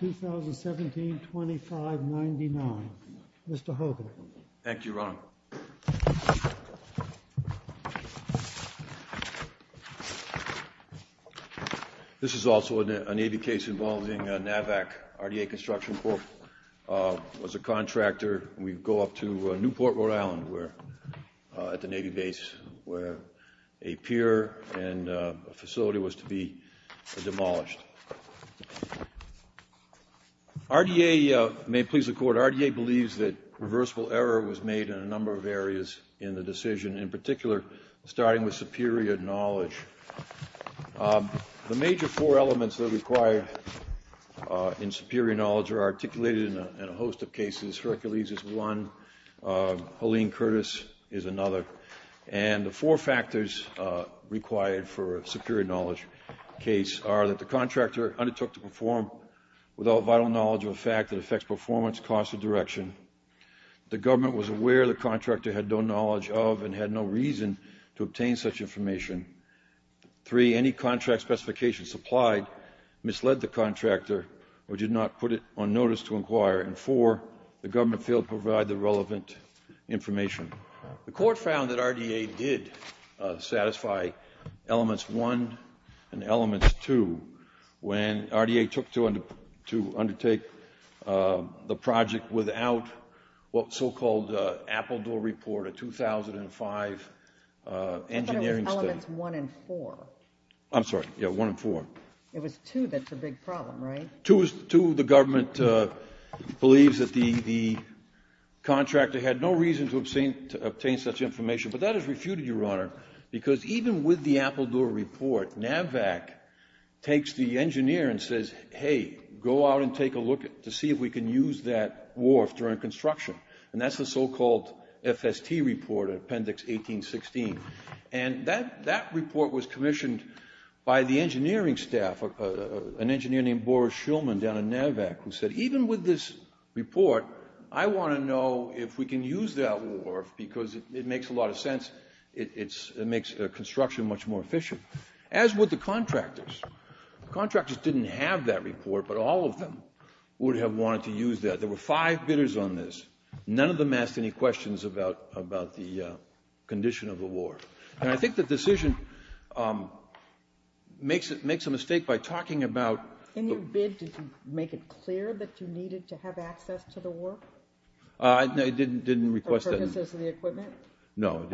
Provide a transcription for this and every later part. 2017-2599. Mr. Hogan. Thank you, Ron. This is also a Navy case involving NAVAC. RDA Construction Corp. was a contractor. We go up to Newport, Rhode Island, at the Navy base, where a pier and a facility was to be demolished. RDA believes that reversible error was made in a number of areas in the decision, in particular, starting with superior knowledge. The major four elements that are required in superior knowledge are articulated in a host of cases. Hercules is required for a superior knowledge case, are that the contractor undertook to perform without vital knowledge of a fact that affects performance, cost, or direction. The government was aware the contractor had no knowledge of and had no reason to obtain such information. Three, any contract specification supplied misled the contractor or did not put it on notice to inquire. And four, the government failed to provide the relevant information. The court found that RDA did satisfy Elements 1 and Elements 2 when RDA took to undertake the project without what's so-called Appledore Report, a 2005 engineering study. I thought it was Elements 1 and 4. I'm sorry, yeah, 1 and 4. It was 2 that's a big problem, right? Two, the government believes that the contractor had no reason to obtain such information, but that is refuted, Your Honor, because even with the Appledore Report, NAVVAC takes the engineer and says, hey, go out and take a look to see if we can use that wharf during construction. And that's the so-called FST Report, Appendix 1816. And that report was said, even with this report, I want to know if we can use that wharf because it makes a lot of sense. It makes construction much more efficient. As with the contractors. Contractors didn't have that report, but all of them would have wanted to use that. There were five bidders on this. None of them asked any questions about the condition of the wharf. And I think the decision makes a mistake by talking about In your bid, did you make it clear that you needed to have access to the wharf? I didn't request that. For purposes of the equipment? No.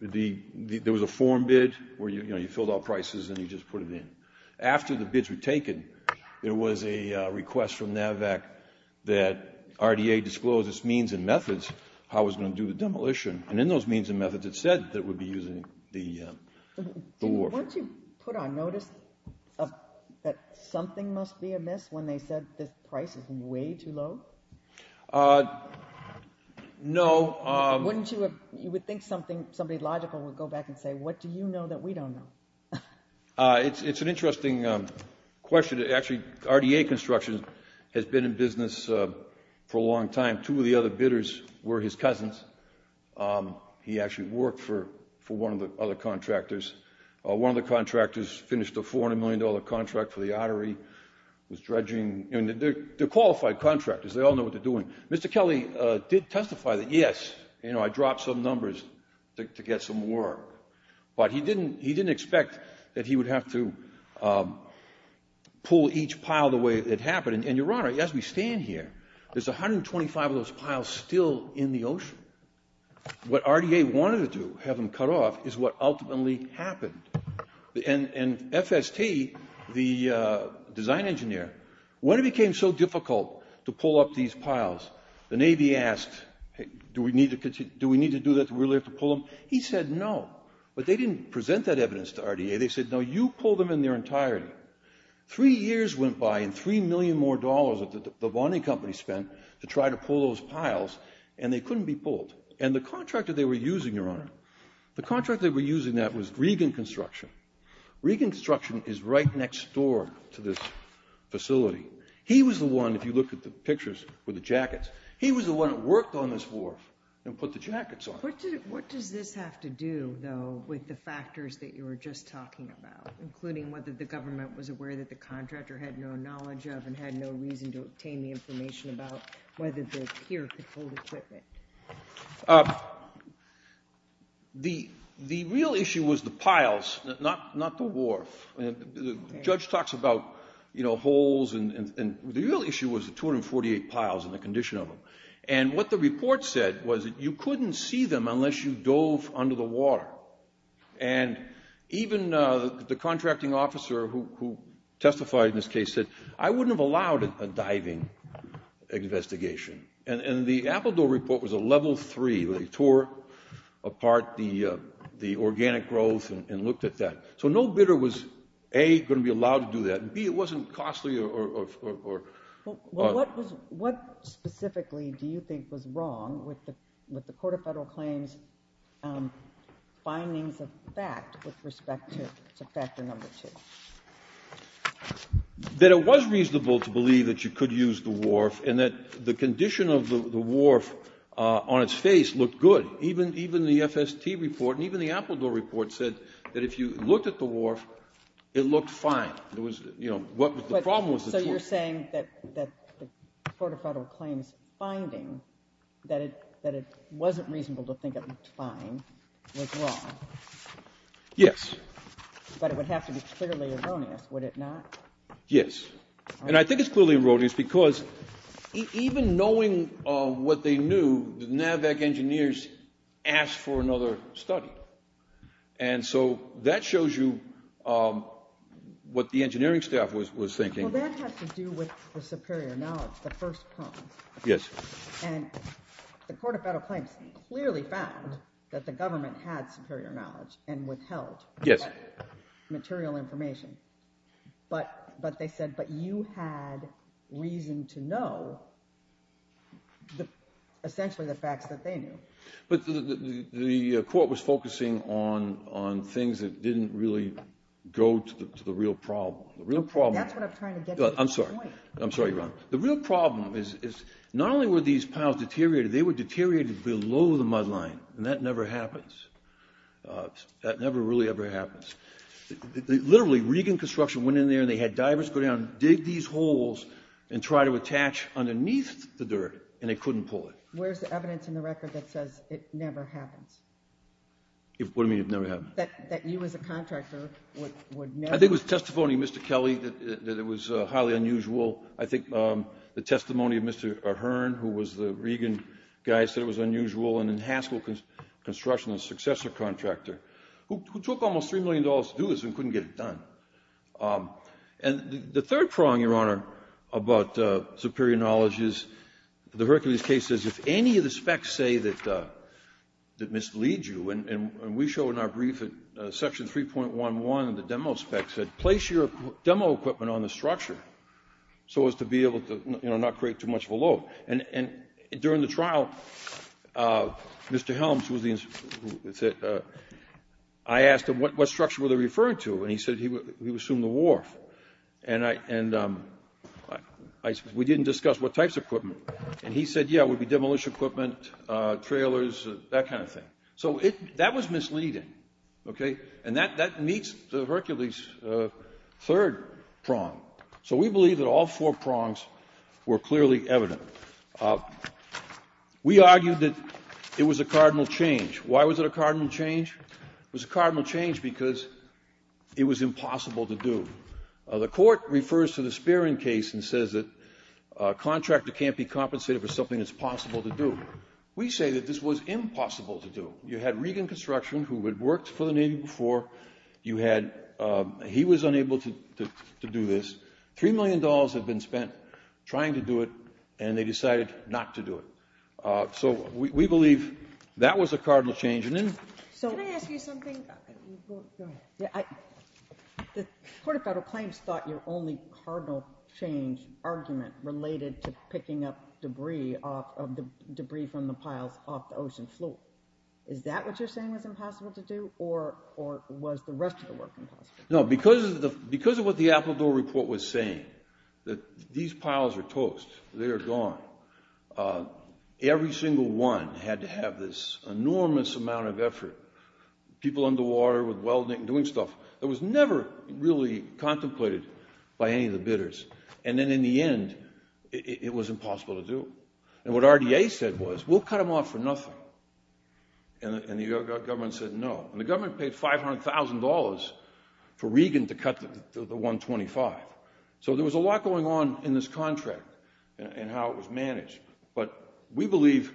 There was a form bid where you filled out prices and you just put it in. After the bids were taken, there was a request from NAVVAC that RDA disclose its means and methods, how it was going to do the demolition. And in those means and methods, it said that it would be using the wharf. Once you put on notice that something must be amiss when they said the price is way too low? No. You would think somebody logical would go back and say, what do you know that we don't know? It's an interesting question. Actually, RDA Construction has been in business for a long time. Two of the other bidders were his cousins. He actually worked for one of the other contractors. One of the contractors finished a $400 million contract for the artery, was dredging. They're qualified contractors. They all know what they're doing. Mr. Kelly did testify that, yes, I dropped some numbers to get some work. But he didn't expect that he would have to pull each pile the way it happened. And, Your Honor, as we know, there are 25 of those piles still in the ocean. What RDA wanted to do, have them cut off, is what ultimately happened. And FST, the design engineer, when it became so difficult to pull up these piles, the Navy asked, do we need to do that? Do we really have to pull them? He said no. But they didn't present that evidence to RDA. They said, no, you pull them in their entirety. Three years went by and three million more dollars that the bonding company spent to try to pull those piles, and they couldn't be pulled. And the contractor they were using, Your Honor, the contractor they were using that was Regan Construction. Regan Construction is right next door to this facility. He was the one, if you look at the pictures with the jackets, he was the one that worked on this wharf and put the jackets on it. What does this have to do, though, with the factors that you were just talking about, including whether the government was aware that the contractor had no knowledge of and had no reason to obtain the information about whether the pier could hold equipment? The real issue was the piles, not the wharf. The judge talks about holes, and the real issue was the 248 piles and the condition of them. And what the report said was that you couldn't see them unless you dove under the water. And even the contracting officer who testified in this case said, I wouldn't have allowed a diving investigation. And the Appledore report was a level three. They tore apart the organic growth and looked at that. So no bidder was, A, going to be allowed to do that, and B, it wasn't costly or... Well, what specifically do you think was wrong with the Court of Federal Claims' findings of fact with respect to factor number two? That it was reasonable to believe that you could use the wharf and that the condition of the wharf on its face looked good. Even the FST report and even the Appledore report said that if you looked at the wharf, it looked fine. The problem was that... So you're saying that the Court of Federal Claims' finding that it wasn't reasonable to think it looked fine was wrong? Yes. But it would have to be clearly erroneous, would it not? Yes. And I think it's clearly erroneous because even knowing what they knew, the NAVAC engineers asked for another study. And so that shows you what the engineering staff was thinking. Well, that has to do with the superior knowledge, the first point. Yes. And the Court of Federal Claims clearly found that the government had superior knowledge and withheld material information. But they said, but you had reason to know essentially the facts that they knew. But the Court was focusing on things that didn't really go to the real problem. And that's what I'm trying to get to. I'm sorry. I'm sorry, Your Honor. The real problem is not only were these piles deteriorated, they were deteriorated below the mud line. And that never happens. That never really ever happens. Literally, Regan Construction went in there and they had divers go down and dig these holes and try to attach underneath the dirt and they couldn't pull it. Where's the evidence in the record that says it never happens? What do you mean it never happens? That you as a contractor would never... I think it was testimony of Mr. Kelly that it was highly unusual. I think the testimony of Mr. Ahern, who was the Regan guy, said it was unusual. And in Haskell Construction, the successor contractor, who took almost $3 million to do this and couldn't get it done. And the third prong, Your Honor, about superior knowledge is the Hercules case says if any of the specs say that it misleads you, and we show in our brief at Section 3.11 the demo spec said, place your demo equipment on the structure so as to be able to not create too much of a load. And during the trial, Mr. Helms, I asked him what structure were they referring to? And he said he assumed the wharf. And we didn't discuss what types of equipment. And he said, yeah, it would be demolished equipment, trailers, that kind of thing. So that was misleading. Okay? And that meets Hercules' third prong. So we believe that all four prongs were clearly evident. We argued that it was a cardinal change. Why was it a cardinal change? It was a cardinal change because it was impossible to do. The Court refers to the Spearing case and says that a contractor can't be compensated for something that's possible to do. We say that this was impossible to do. You had Regan Construction, who had worked for the Navy before. He was unable to do this. Three million dollars had been spent trying to do it, and they decided not to do it. So we believe that was a cardinal change. Can I ask you something? Go ahead. The Court of Federal Claims thought your only cardinal change argument related to picking up debris from the piles off the ocean floor. Is that what you're saying was impossible to do, or was the rest of the work impossible? No, because of what the Appledore Report was saying, that these piles are toast. They are gone. Every single one had to have this enormous amount of effort, people underwater with welding, doing stuff, and then in the end, it was impossible to do. And what RDA said was, we'll cut them off for nothing. And the government said no. And the government paid $500,000 for Regan to cut the 125. So there was a lot going on in this contract and how it was managed. But we believe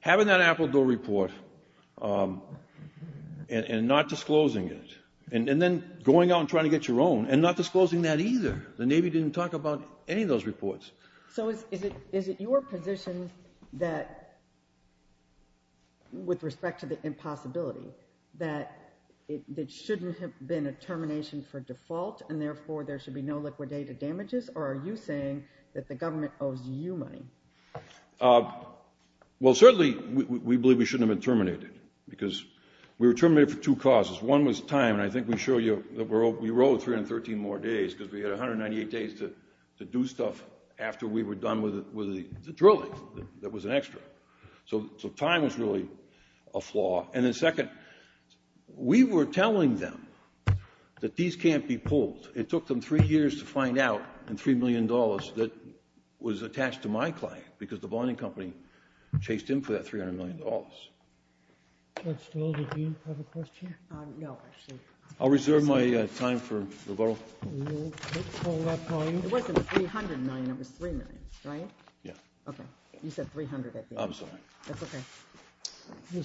having that Appledore Report and not disclosing it, and then going out and trying to get your own, and not disclosing that either. The Navy didn't talk about any of those reports. So is it your position that, with respect to the impossibility, that it shouldn't have been a termination for default, and therefore there should be no liquidated damages? Or are you saying that the government owes you money? Well, certainly we believe we shouldn't have been terminated, because we were terminated for two causes. One was time, and I think we showed you that we were owed 313 more days because we had 198 days to do stuff after we were done with the drilling that was an extra. So time was really a flaw. And then second, we were telling them that these can't be pulled. It took them three years to find out, and $3 million that was attached to my client, because the bonding company chased in for that $300 million. Mr. Stoll, did you have a question? No, actually. I'll reserve my time for rebuttal. It wasn't $300 million. It was $3 million, right? Yeah. Okay. You said $300, I think. I'm sorry. That's okay.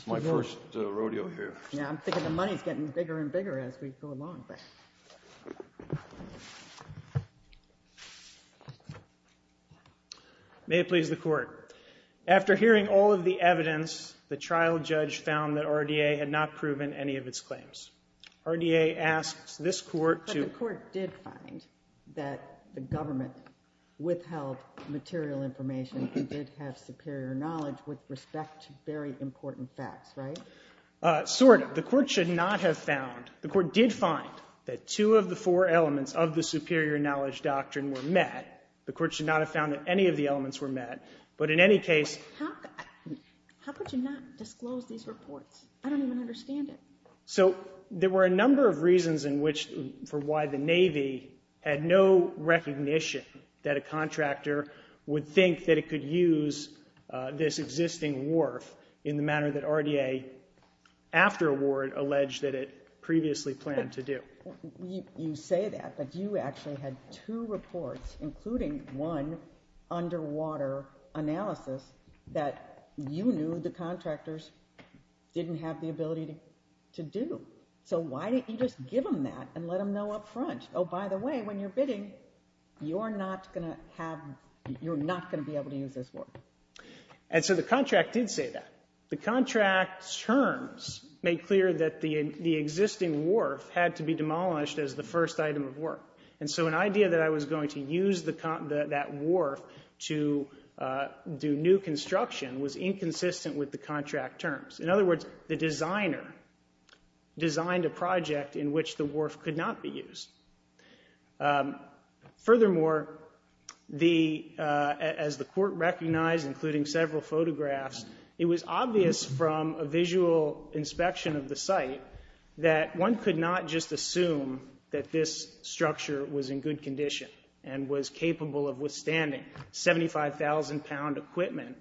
My first rodeo here. Yeah, I'm thinking the money is getting bigger and bigger as we go along. May it please the Court. After hearing all of the evidence, the trial judge found that RDA had not proven any of its claims. RDA asks this Court to- But the Court did find that the government withheld material information and did have superior knowledge with respect to very important facts, right? Sort of. The Court should not have found. The Court did find that two of the four elements of the superior knowledge doctrine were met. The Court should not have found that any of the elements were met. But in any case- How could you not disclose these reports? I don't even understand it. So there were a number of reasons for why the Navy had no recognition that a contractor would think that it could use this existing wharf in the manner that RDA afterward alleged that it previously planned to do. You say that, but you actually had two reports, including one underwater analysis, that you knew the contractors didn't have the ability to do. So why didn't you just give them that and let them know up front, oh, by the way, when you're bidding, you're not going to be able to use this wharf? And so the contract did say that. The contract's terms made clear that the existing wharf had to be demolished as the first item of work. And so an idea that I was going to use that wharf to do new construction was inconsistent with the contract terms. In other words, the designer designed a project in which the wharf could not be used. Furthermore, as the Court recognized, including several photographs, it was obvious from a visual inspection of the site that one could not just assume that this structure was in good condition and was capable of withstanding 75,000-pound equipment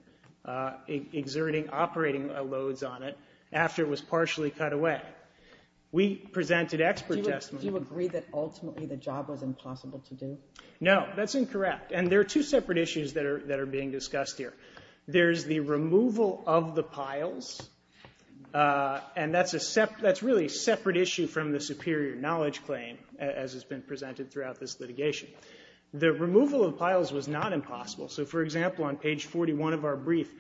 exerting operating loads on it after it was partially cut away. We presented expert testimony. Do you agree that ultimately the job was impossible to do? No, that's incorrect. And there are two separate issues that are being discussed here. There's the removal of the piles, and that's really a separate issue from the superior knowledge claim as has been presented throughout this litigation. The removal of piles was not impossible. So, for example, on page 41 of our brief,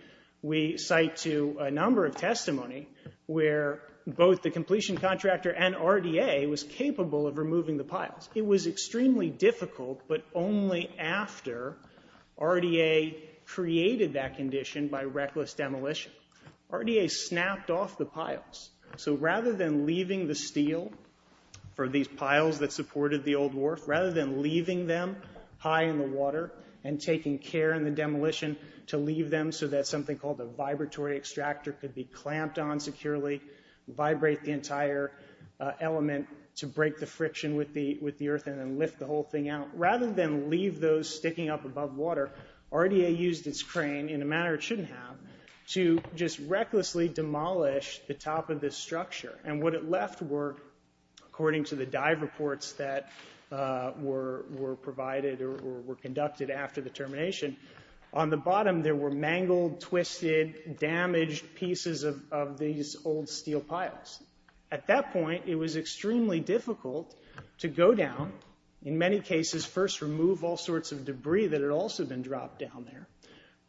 we cite to a number of testimony where both the completion contractor and RDA was capable of removing the piles. It was extremely difficult, but only after RDA created that condition by reckless demolition. RDA snapped off the piles. So rather than leaving the steel for these piles that supported the old wharf, rather than leaving them high in the water and taking care in the demolition to leave them so that something called a vibratory extractor could be clamped on securely, vibrate the entire element to break the friction with the earth and then lift the whole thing out, rather than leave those sticking up above water, RDA used its crane in a manner it shouldn't have to just recklessly demolish the top of this structure. And what it left were, according to the dive reports that were provided or were conducted after the termination, on the bottom there were mangled, twisted, damaged pieces of these old steel piles. At that point, it was extremely difficult to go down, in many cases, first remove all sorts of debris that had also been dropped down there,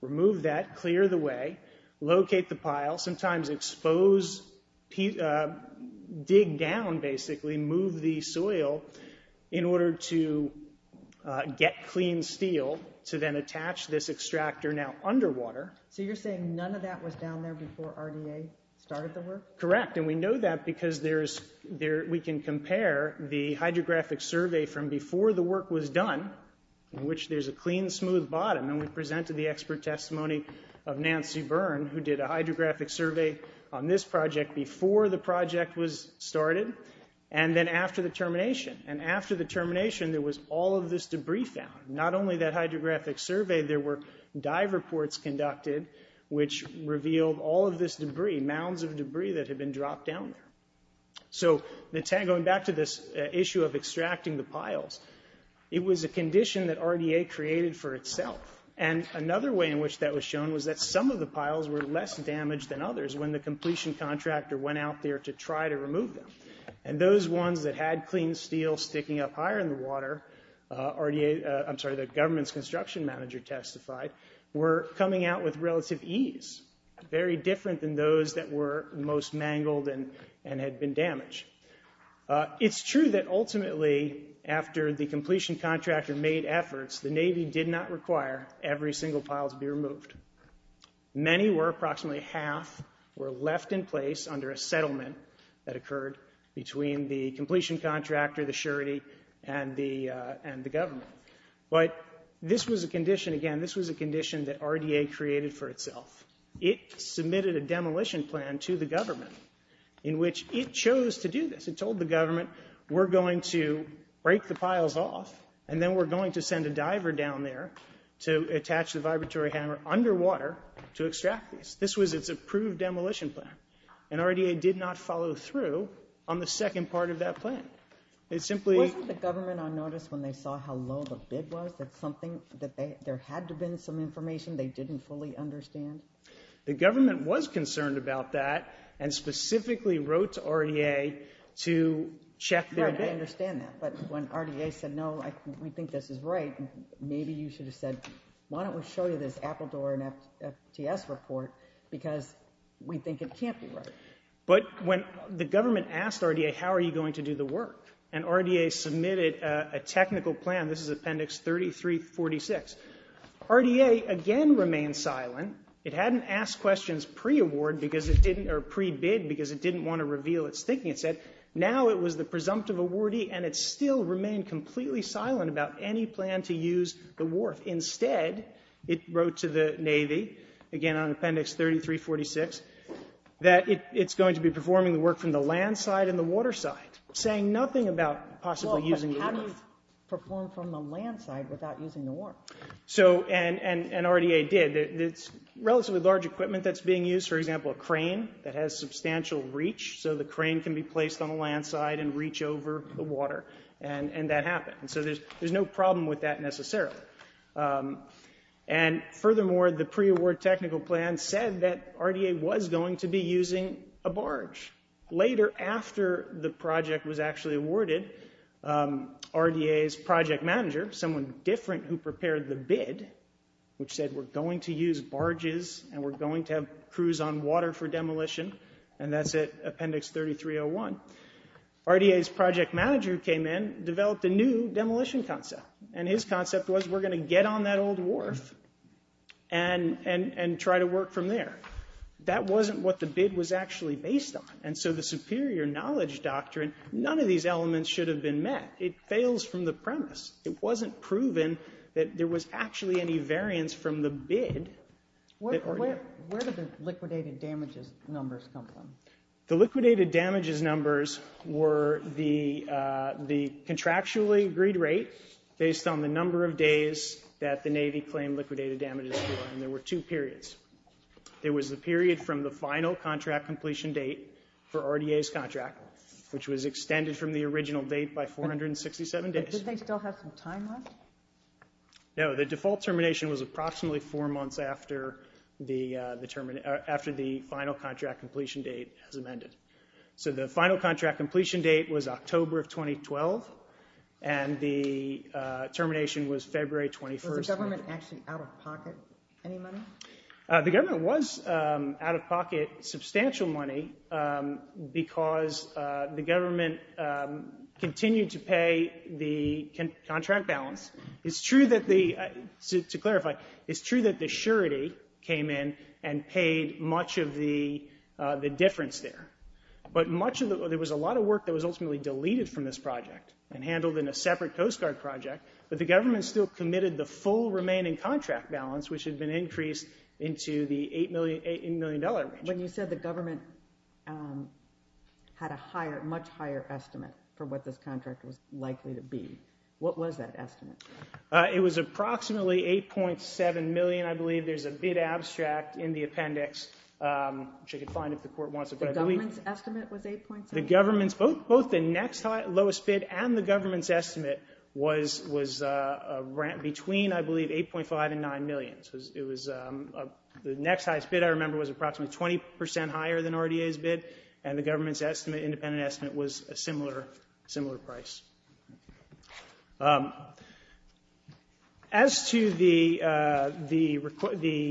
remove that, clear the way, locate the pile, sometimes expose, dig down, basically move the soil in order to get clean steel to then attach this extractor now underwater. So you're saying none of that was down there before RDA started the work? Correct, and we know that because we can compare the hydrographic survey from before the work was done, in which there's a clean, smooth bottom, and we presented the expert testimony of Nancy Byrne, who did a hydrographic survey on this project before the project was started, and then after the termination. And after the termination, there was all of this debris found. Not only that hydrographic survey, there were dive reports conducted which revealed all of this debris, mounds of debris, that had been dropped down there. So going back to this issue of extracting the piles, it was a condition that RDA created for itself. And another way in which that was shown was that some of the piles were less damaged than others when the completion contractor went out there to try to remove them. And those ones that had clean steel sticking up higher in the water, the government's construction manager testified, were coming out with relative ease, very different than those that were most mangled and had been damaged. It's true that ultimately after the completion contractor made efforts, the Navy did not require every single pile to be removed. Many were approximately half were left in place under a settlement that occurred between the completion contractor, the surety, and the government. But this was a condition, again, this was a condition that RDA created for itself. It submitted a demolition plan to the government in which it chose to do this. It told the government, we're going to break the piles off and then we're going to send a diver down there to attach the vibratory hammer underwater to extract these. This was its approved demolition plan. And RDA did not follow through on the second part of that plan. Wasn't the government on notice when they saw how low the bid was, that there had to have been some information they didn't fully understand? The government was concerned about that and specifically wrote to RDA to check their bid. Right, I understand that. But when RDA said, no, we think this is right, maybe you should have said, why don't we show you this Appledore and FTS report because we think it can't be right. But when the government asked RDA, how are you going to do the work? And RDA submitted a technical plan. This is Appendix 3346. RDA again remained silent. It hadn't asked questions pre-award because it didn't, or pre-bid because it didn't want to reveal its thinking. It said, now it was the presumptive awardee and it still remained completely silent about any plan to use the wharf. Instead, it wrote to the Navy, again on Appendix 3346, that it's going to be performing the work from the land side and the water side, saying nothing about possibly using the wharf. How do you perform from the land side without using the wharf? And RDA did. It's relatively large equipment that's being used, for example, a crane that has substantial reach, so the crane can be placed on the land side and reach over the water, and that happened. So there's no problem with that necessarily. And furthermore, the pre-award technical plan said that RDA was going to be using a barge. Later, after the project was actually awarded, RDA's project manager, someone different who prepared the bid, which said we're going to use barges and we're going to have crews on water for demolition, and that's at Appendix 3301. RDA's project manager came in, developed a new demolition concept, and his concept was we're going to get on that old wharf and try to work from there. That wasn't what the bid was actually based on, and so the superior knowledge doctrine, none of these elements should have been met. It fails from the premise. It wasn't proven that there was actually any variance from the bid. Where did the liquidated damages numbers come from? The liquidated damages numbers were the contractually agreed rate based on the number of days that the Navy claimed liquidated damages were, and there were two periods. There was the period from the final contract completion date for RDA's contract, which was extended from the original date by 467 days. Did they still have some time left? No. The default termination was approximately four months after the final contract completion date was amended. The final contract completion date was October of 2012, and the termination was February 21st. Was the government actually out of pocket any money? The government was out of pocket substantial money because the government continued to pay the contract balance. To clarify, it's true that the surety came in and paid much of the difference there, but there was a lot of work that was ultimately deleted from this project and handled in a separate Coast Guard project, but the government still committed the full remaining contract balance, which had been increased into the $8 million range. When you said the government had a much higher estimate for what this contract was likely to be, what was that estimate? It was approximately $8.7 million, I believe. There's a bid abstract in the appendix, which you can find if the court wants it. The government's estimate was $8.7 million? Both the next lowest bid and the government's estimate was between, I believe, $8.5 and $9 million. The next highest bid, I remember, was approximately 20% higher than RDA's bid, and the government's independent estimate was a similar price. As to the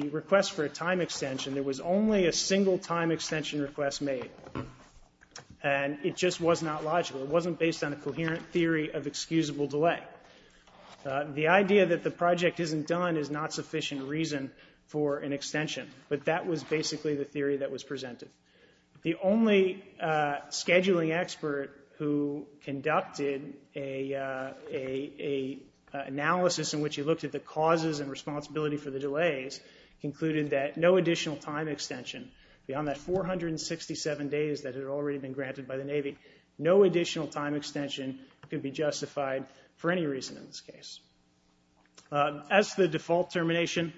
request for a time extension, there was only a single time extension request made, and it just was not logical. It wasn't based on a coherent theory of excusable delay. The idea that the project isn't done is not sufficient reason for an extension, but that was basically the theory that was presented. The only scheduling expert who conducted an analysis in which he looked at the causes and responsibility for the delays concluded that no additional time extension beyond that 467 days that had already been granted by the Navy, no additional time extension could be justified for any reason in this case. As to the default termination,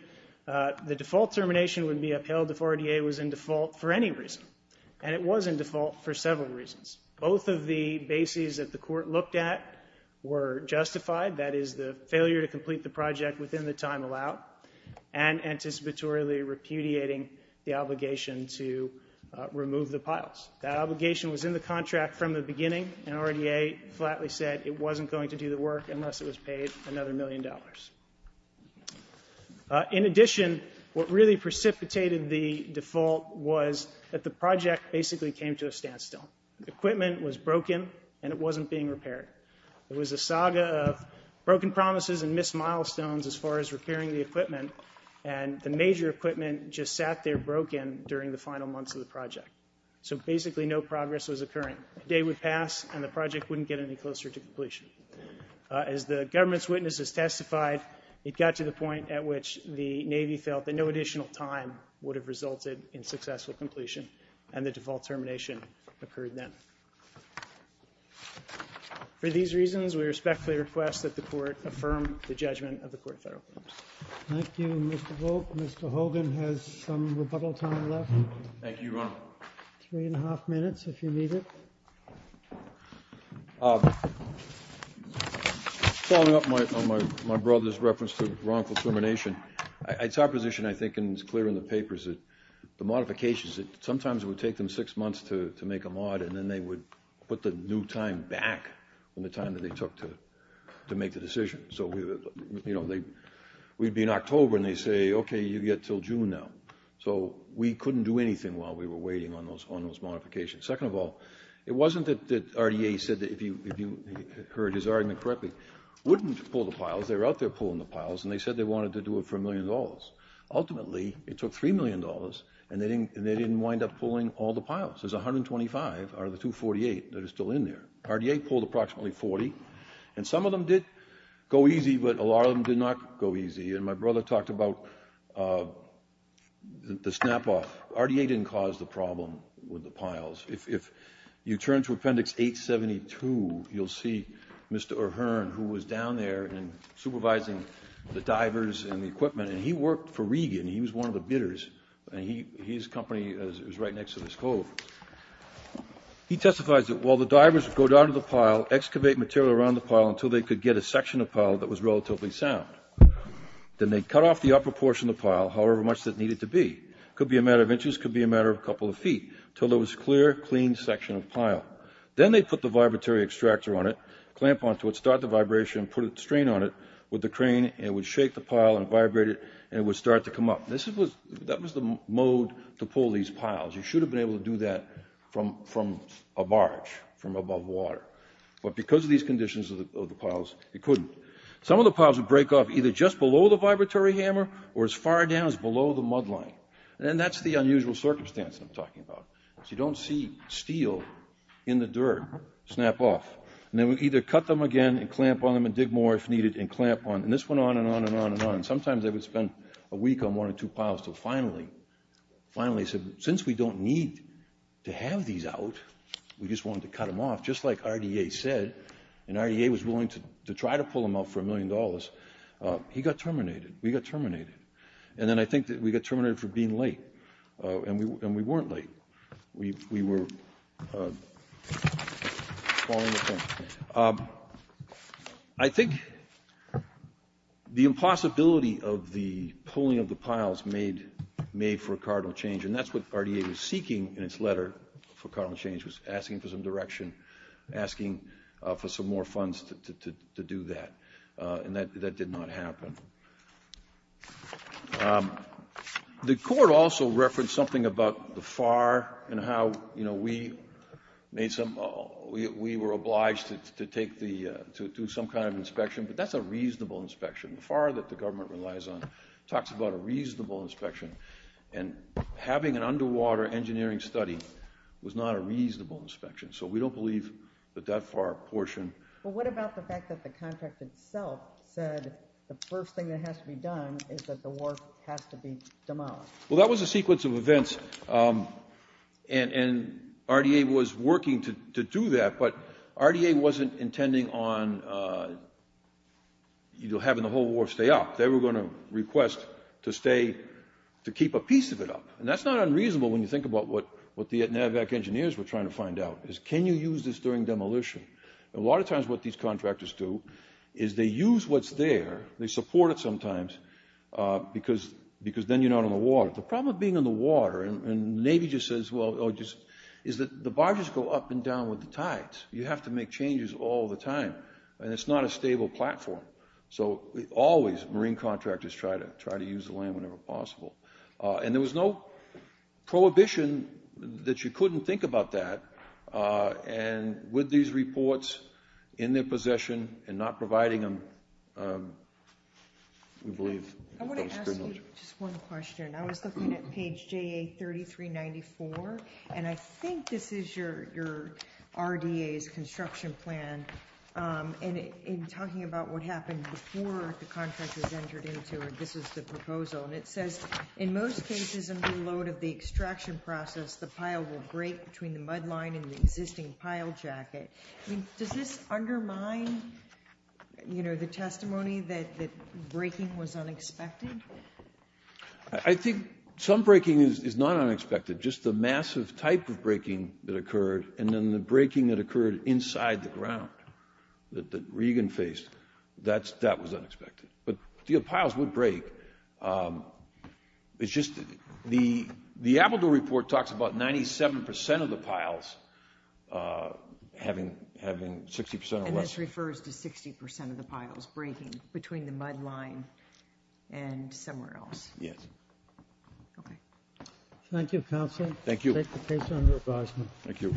the default termination would be upheld if RDA was in default for any reason, and it was in default for several reasons. Both of the bases that the court looked at were justified, that is, the failure to complete the project within the time allowed, and anticipatorily repudiating the obligation to remove the piles. That obligation was in the contract from the beginning, and RDA flatly said it wasn't going to do the work unless it was paid another million dollars. In addition, what really precipitated the default was that the project basically came to a standstill. Equipment was broken, and it wasn't being repaired. It was a saga of broken promises and missed milestones as far as repairing the equipment, and the major equipment just sat there broken during the final months of the project. So basically no progress was occurring. A day would pass, and the project wouldn't get any closer to completion. As the government's witnesses testified, it got to the point at which the Navy felt that no additional time would have resulted in successful completion, and the default termination occurred then. For these reasons, we respectfully request that the court affirm the judgment of the court federal claims. Thank you, Mr. Volk. Mr. Hogan has some rebuttal time left. Thank you, Your Honor. Three and a half minutes, if you need it. Following up on my brother's reference to wrongful termination, it's our position, I think, and it's clear in the papers, that the modifications, sometimes it would take them six months to make a mod, and then they would put the new time back in the time that they took to make the decision. So, you know, we'd be in October, and they'd say, okay, you've got until June now. So we couldn't do anything while we were waiting on those modifications. Second of all, it wasn't that RDA said that, if you heard his argument correctly, wouldn't pull the piles. They were out there pulling the piles, and they said they wanted to do it for a million dollars. Ultimately, it took $3 million, and they didn't wind up pulling all the piles. There's 125 out of the 248 that are still in there. RDA pulled approximately 40, and some of them did go easy, but a lot of them did not go easy. And my brother talked about the snap-off. RDA didn't cause the problem with the piles. If you turn to Appendix 872, you'll see Mr. O'Hearn, who was down there and supervising the divers and the equipment, and he worked for Regan. He was one of the bidders, and his company was right next to this cove. He testifies that while the divers would go down to the pile, excavate material around the pile until they could get a section of pile that was relatively sound. Then they'd cut off the upper portion of the pile, however much that needed to be. It could be a matter of inches. It could be a matter of a couple of feet, until there was a clear, clean section of pile. Then they'd put the vibratory extractor on it, clamp onto it, start the vibration, put a strain on it with the crane, and it would shake the pile and vibrate it, and it would start to come up. That was the mode to pull these piles. You should have been able to do that from a barge, from above water. But because of these conditions of the piles, it couldn't. Some of the piles would break off either just below the vibratory hammer or as far down as below the mud line. That's the unusual circumstance I'm talking about. You don't see steel in the dirt snap off. Then we'd either cut them again and clamp on them and dig more if needed and clamp on, and this went on and on and on and on. Sometimes they would spend a week on one or two piles until finally, since we don't need to have these out, we just wanted to cut them off. Just like RDA said, and RDA was willing to try to pull them off for a million dollars, he got terminated. We got terminated. And then I think that we got terminated for being late, and we weren't late. We were falling apart. I think the impossibility of the pulling of the piles made for a cardinal change, and that's what RDA was seeking in its letter for cardinal change, was asking for some direction, asking for some more funds to do that. And that did not happen. The court also referenced something about the FAR and how we made some, we were obliged to do some kind of inspection, but that's a reasonable inspection. The FAR that the government relies on talks about a reasonable inspection, and having an underwater engineering study was not a reasonable inspection. So we don't believe that that FAR portion. Well, what about the fact that the contract itself said the first thing that has to be done is that the wharf has to be demolished? Well, that was a sequence of events, and RDA was working to do that, but RDA wasn't intending on having the whole wharf stay up. They were going to request to stay, to keep a piece of it up. And that's not unreasonable when you think about what the NAVAC engineers were trying to find out, is can you use this during demolition? A lot of times what these contractors do is they use what's there, they support it sometimes, because then you're not on the water. The problem with being on the water, and the Navy just says, is that the barges go up and down with the tides. You have to make changes all the time, and it's not a stable platform. So always, marine contractors try to use the land whenever possible. And there was no prohibition that you couldn't think about that, and with these reports in their possession and not providing them, we believe that was pretty much it. I want to ask you just one question. I was looking at page JA3394, and I think this is your RDA's construction plan, and in talking about what happened before the contractors entered into it, this is the proposal, and it says, in most cases under the load of the extraction process, the pile will break between the mud line and the existing pile jacket. Does this undermine the testimony that breaking was unexpected? I think some breaking is not unexpected. Just the massive type of breaking that occurred, and then the breaking that occurred inside the ground that Regan faced, that was unexpected. But the piles would break. It's just the Appledoo report talks about 97% of the piles having 60% or less. And this refers to 60% of the piles breaking between the mud line and somewhere else. Yes. Okay. Thank you, Counselor. Thank you. Take the case under advisement. Thank you.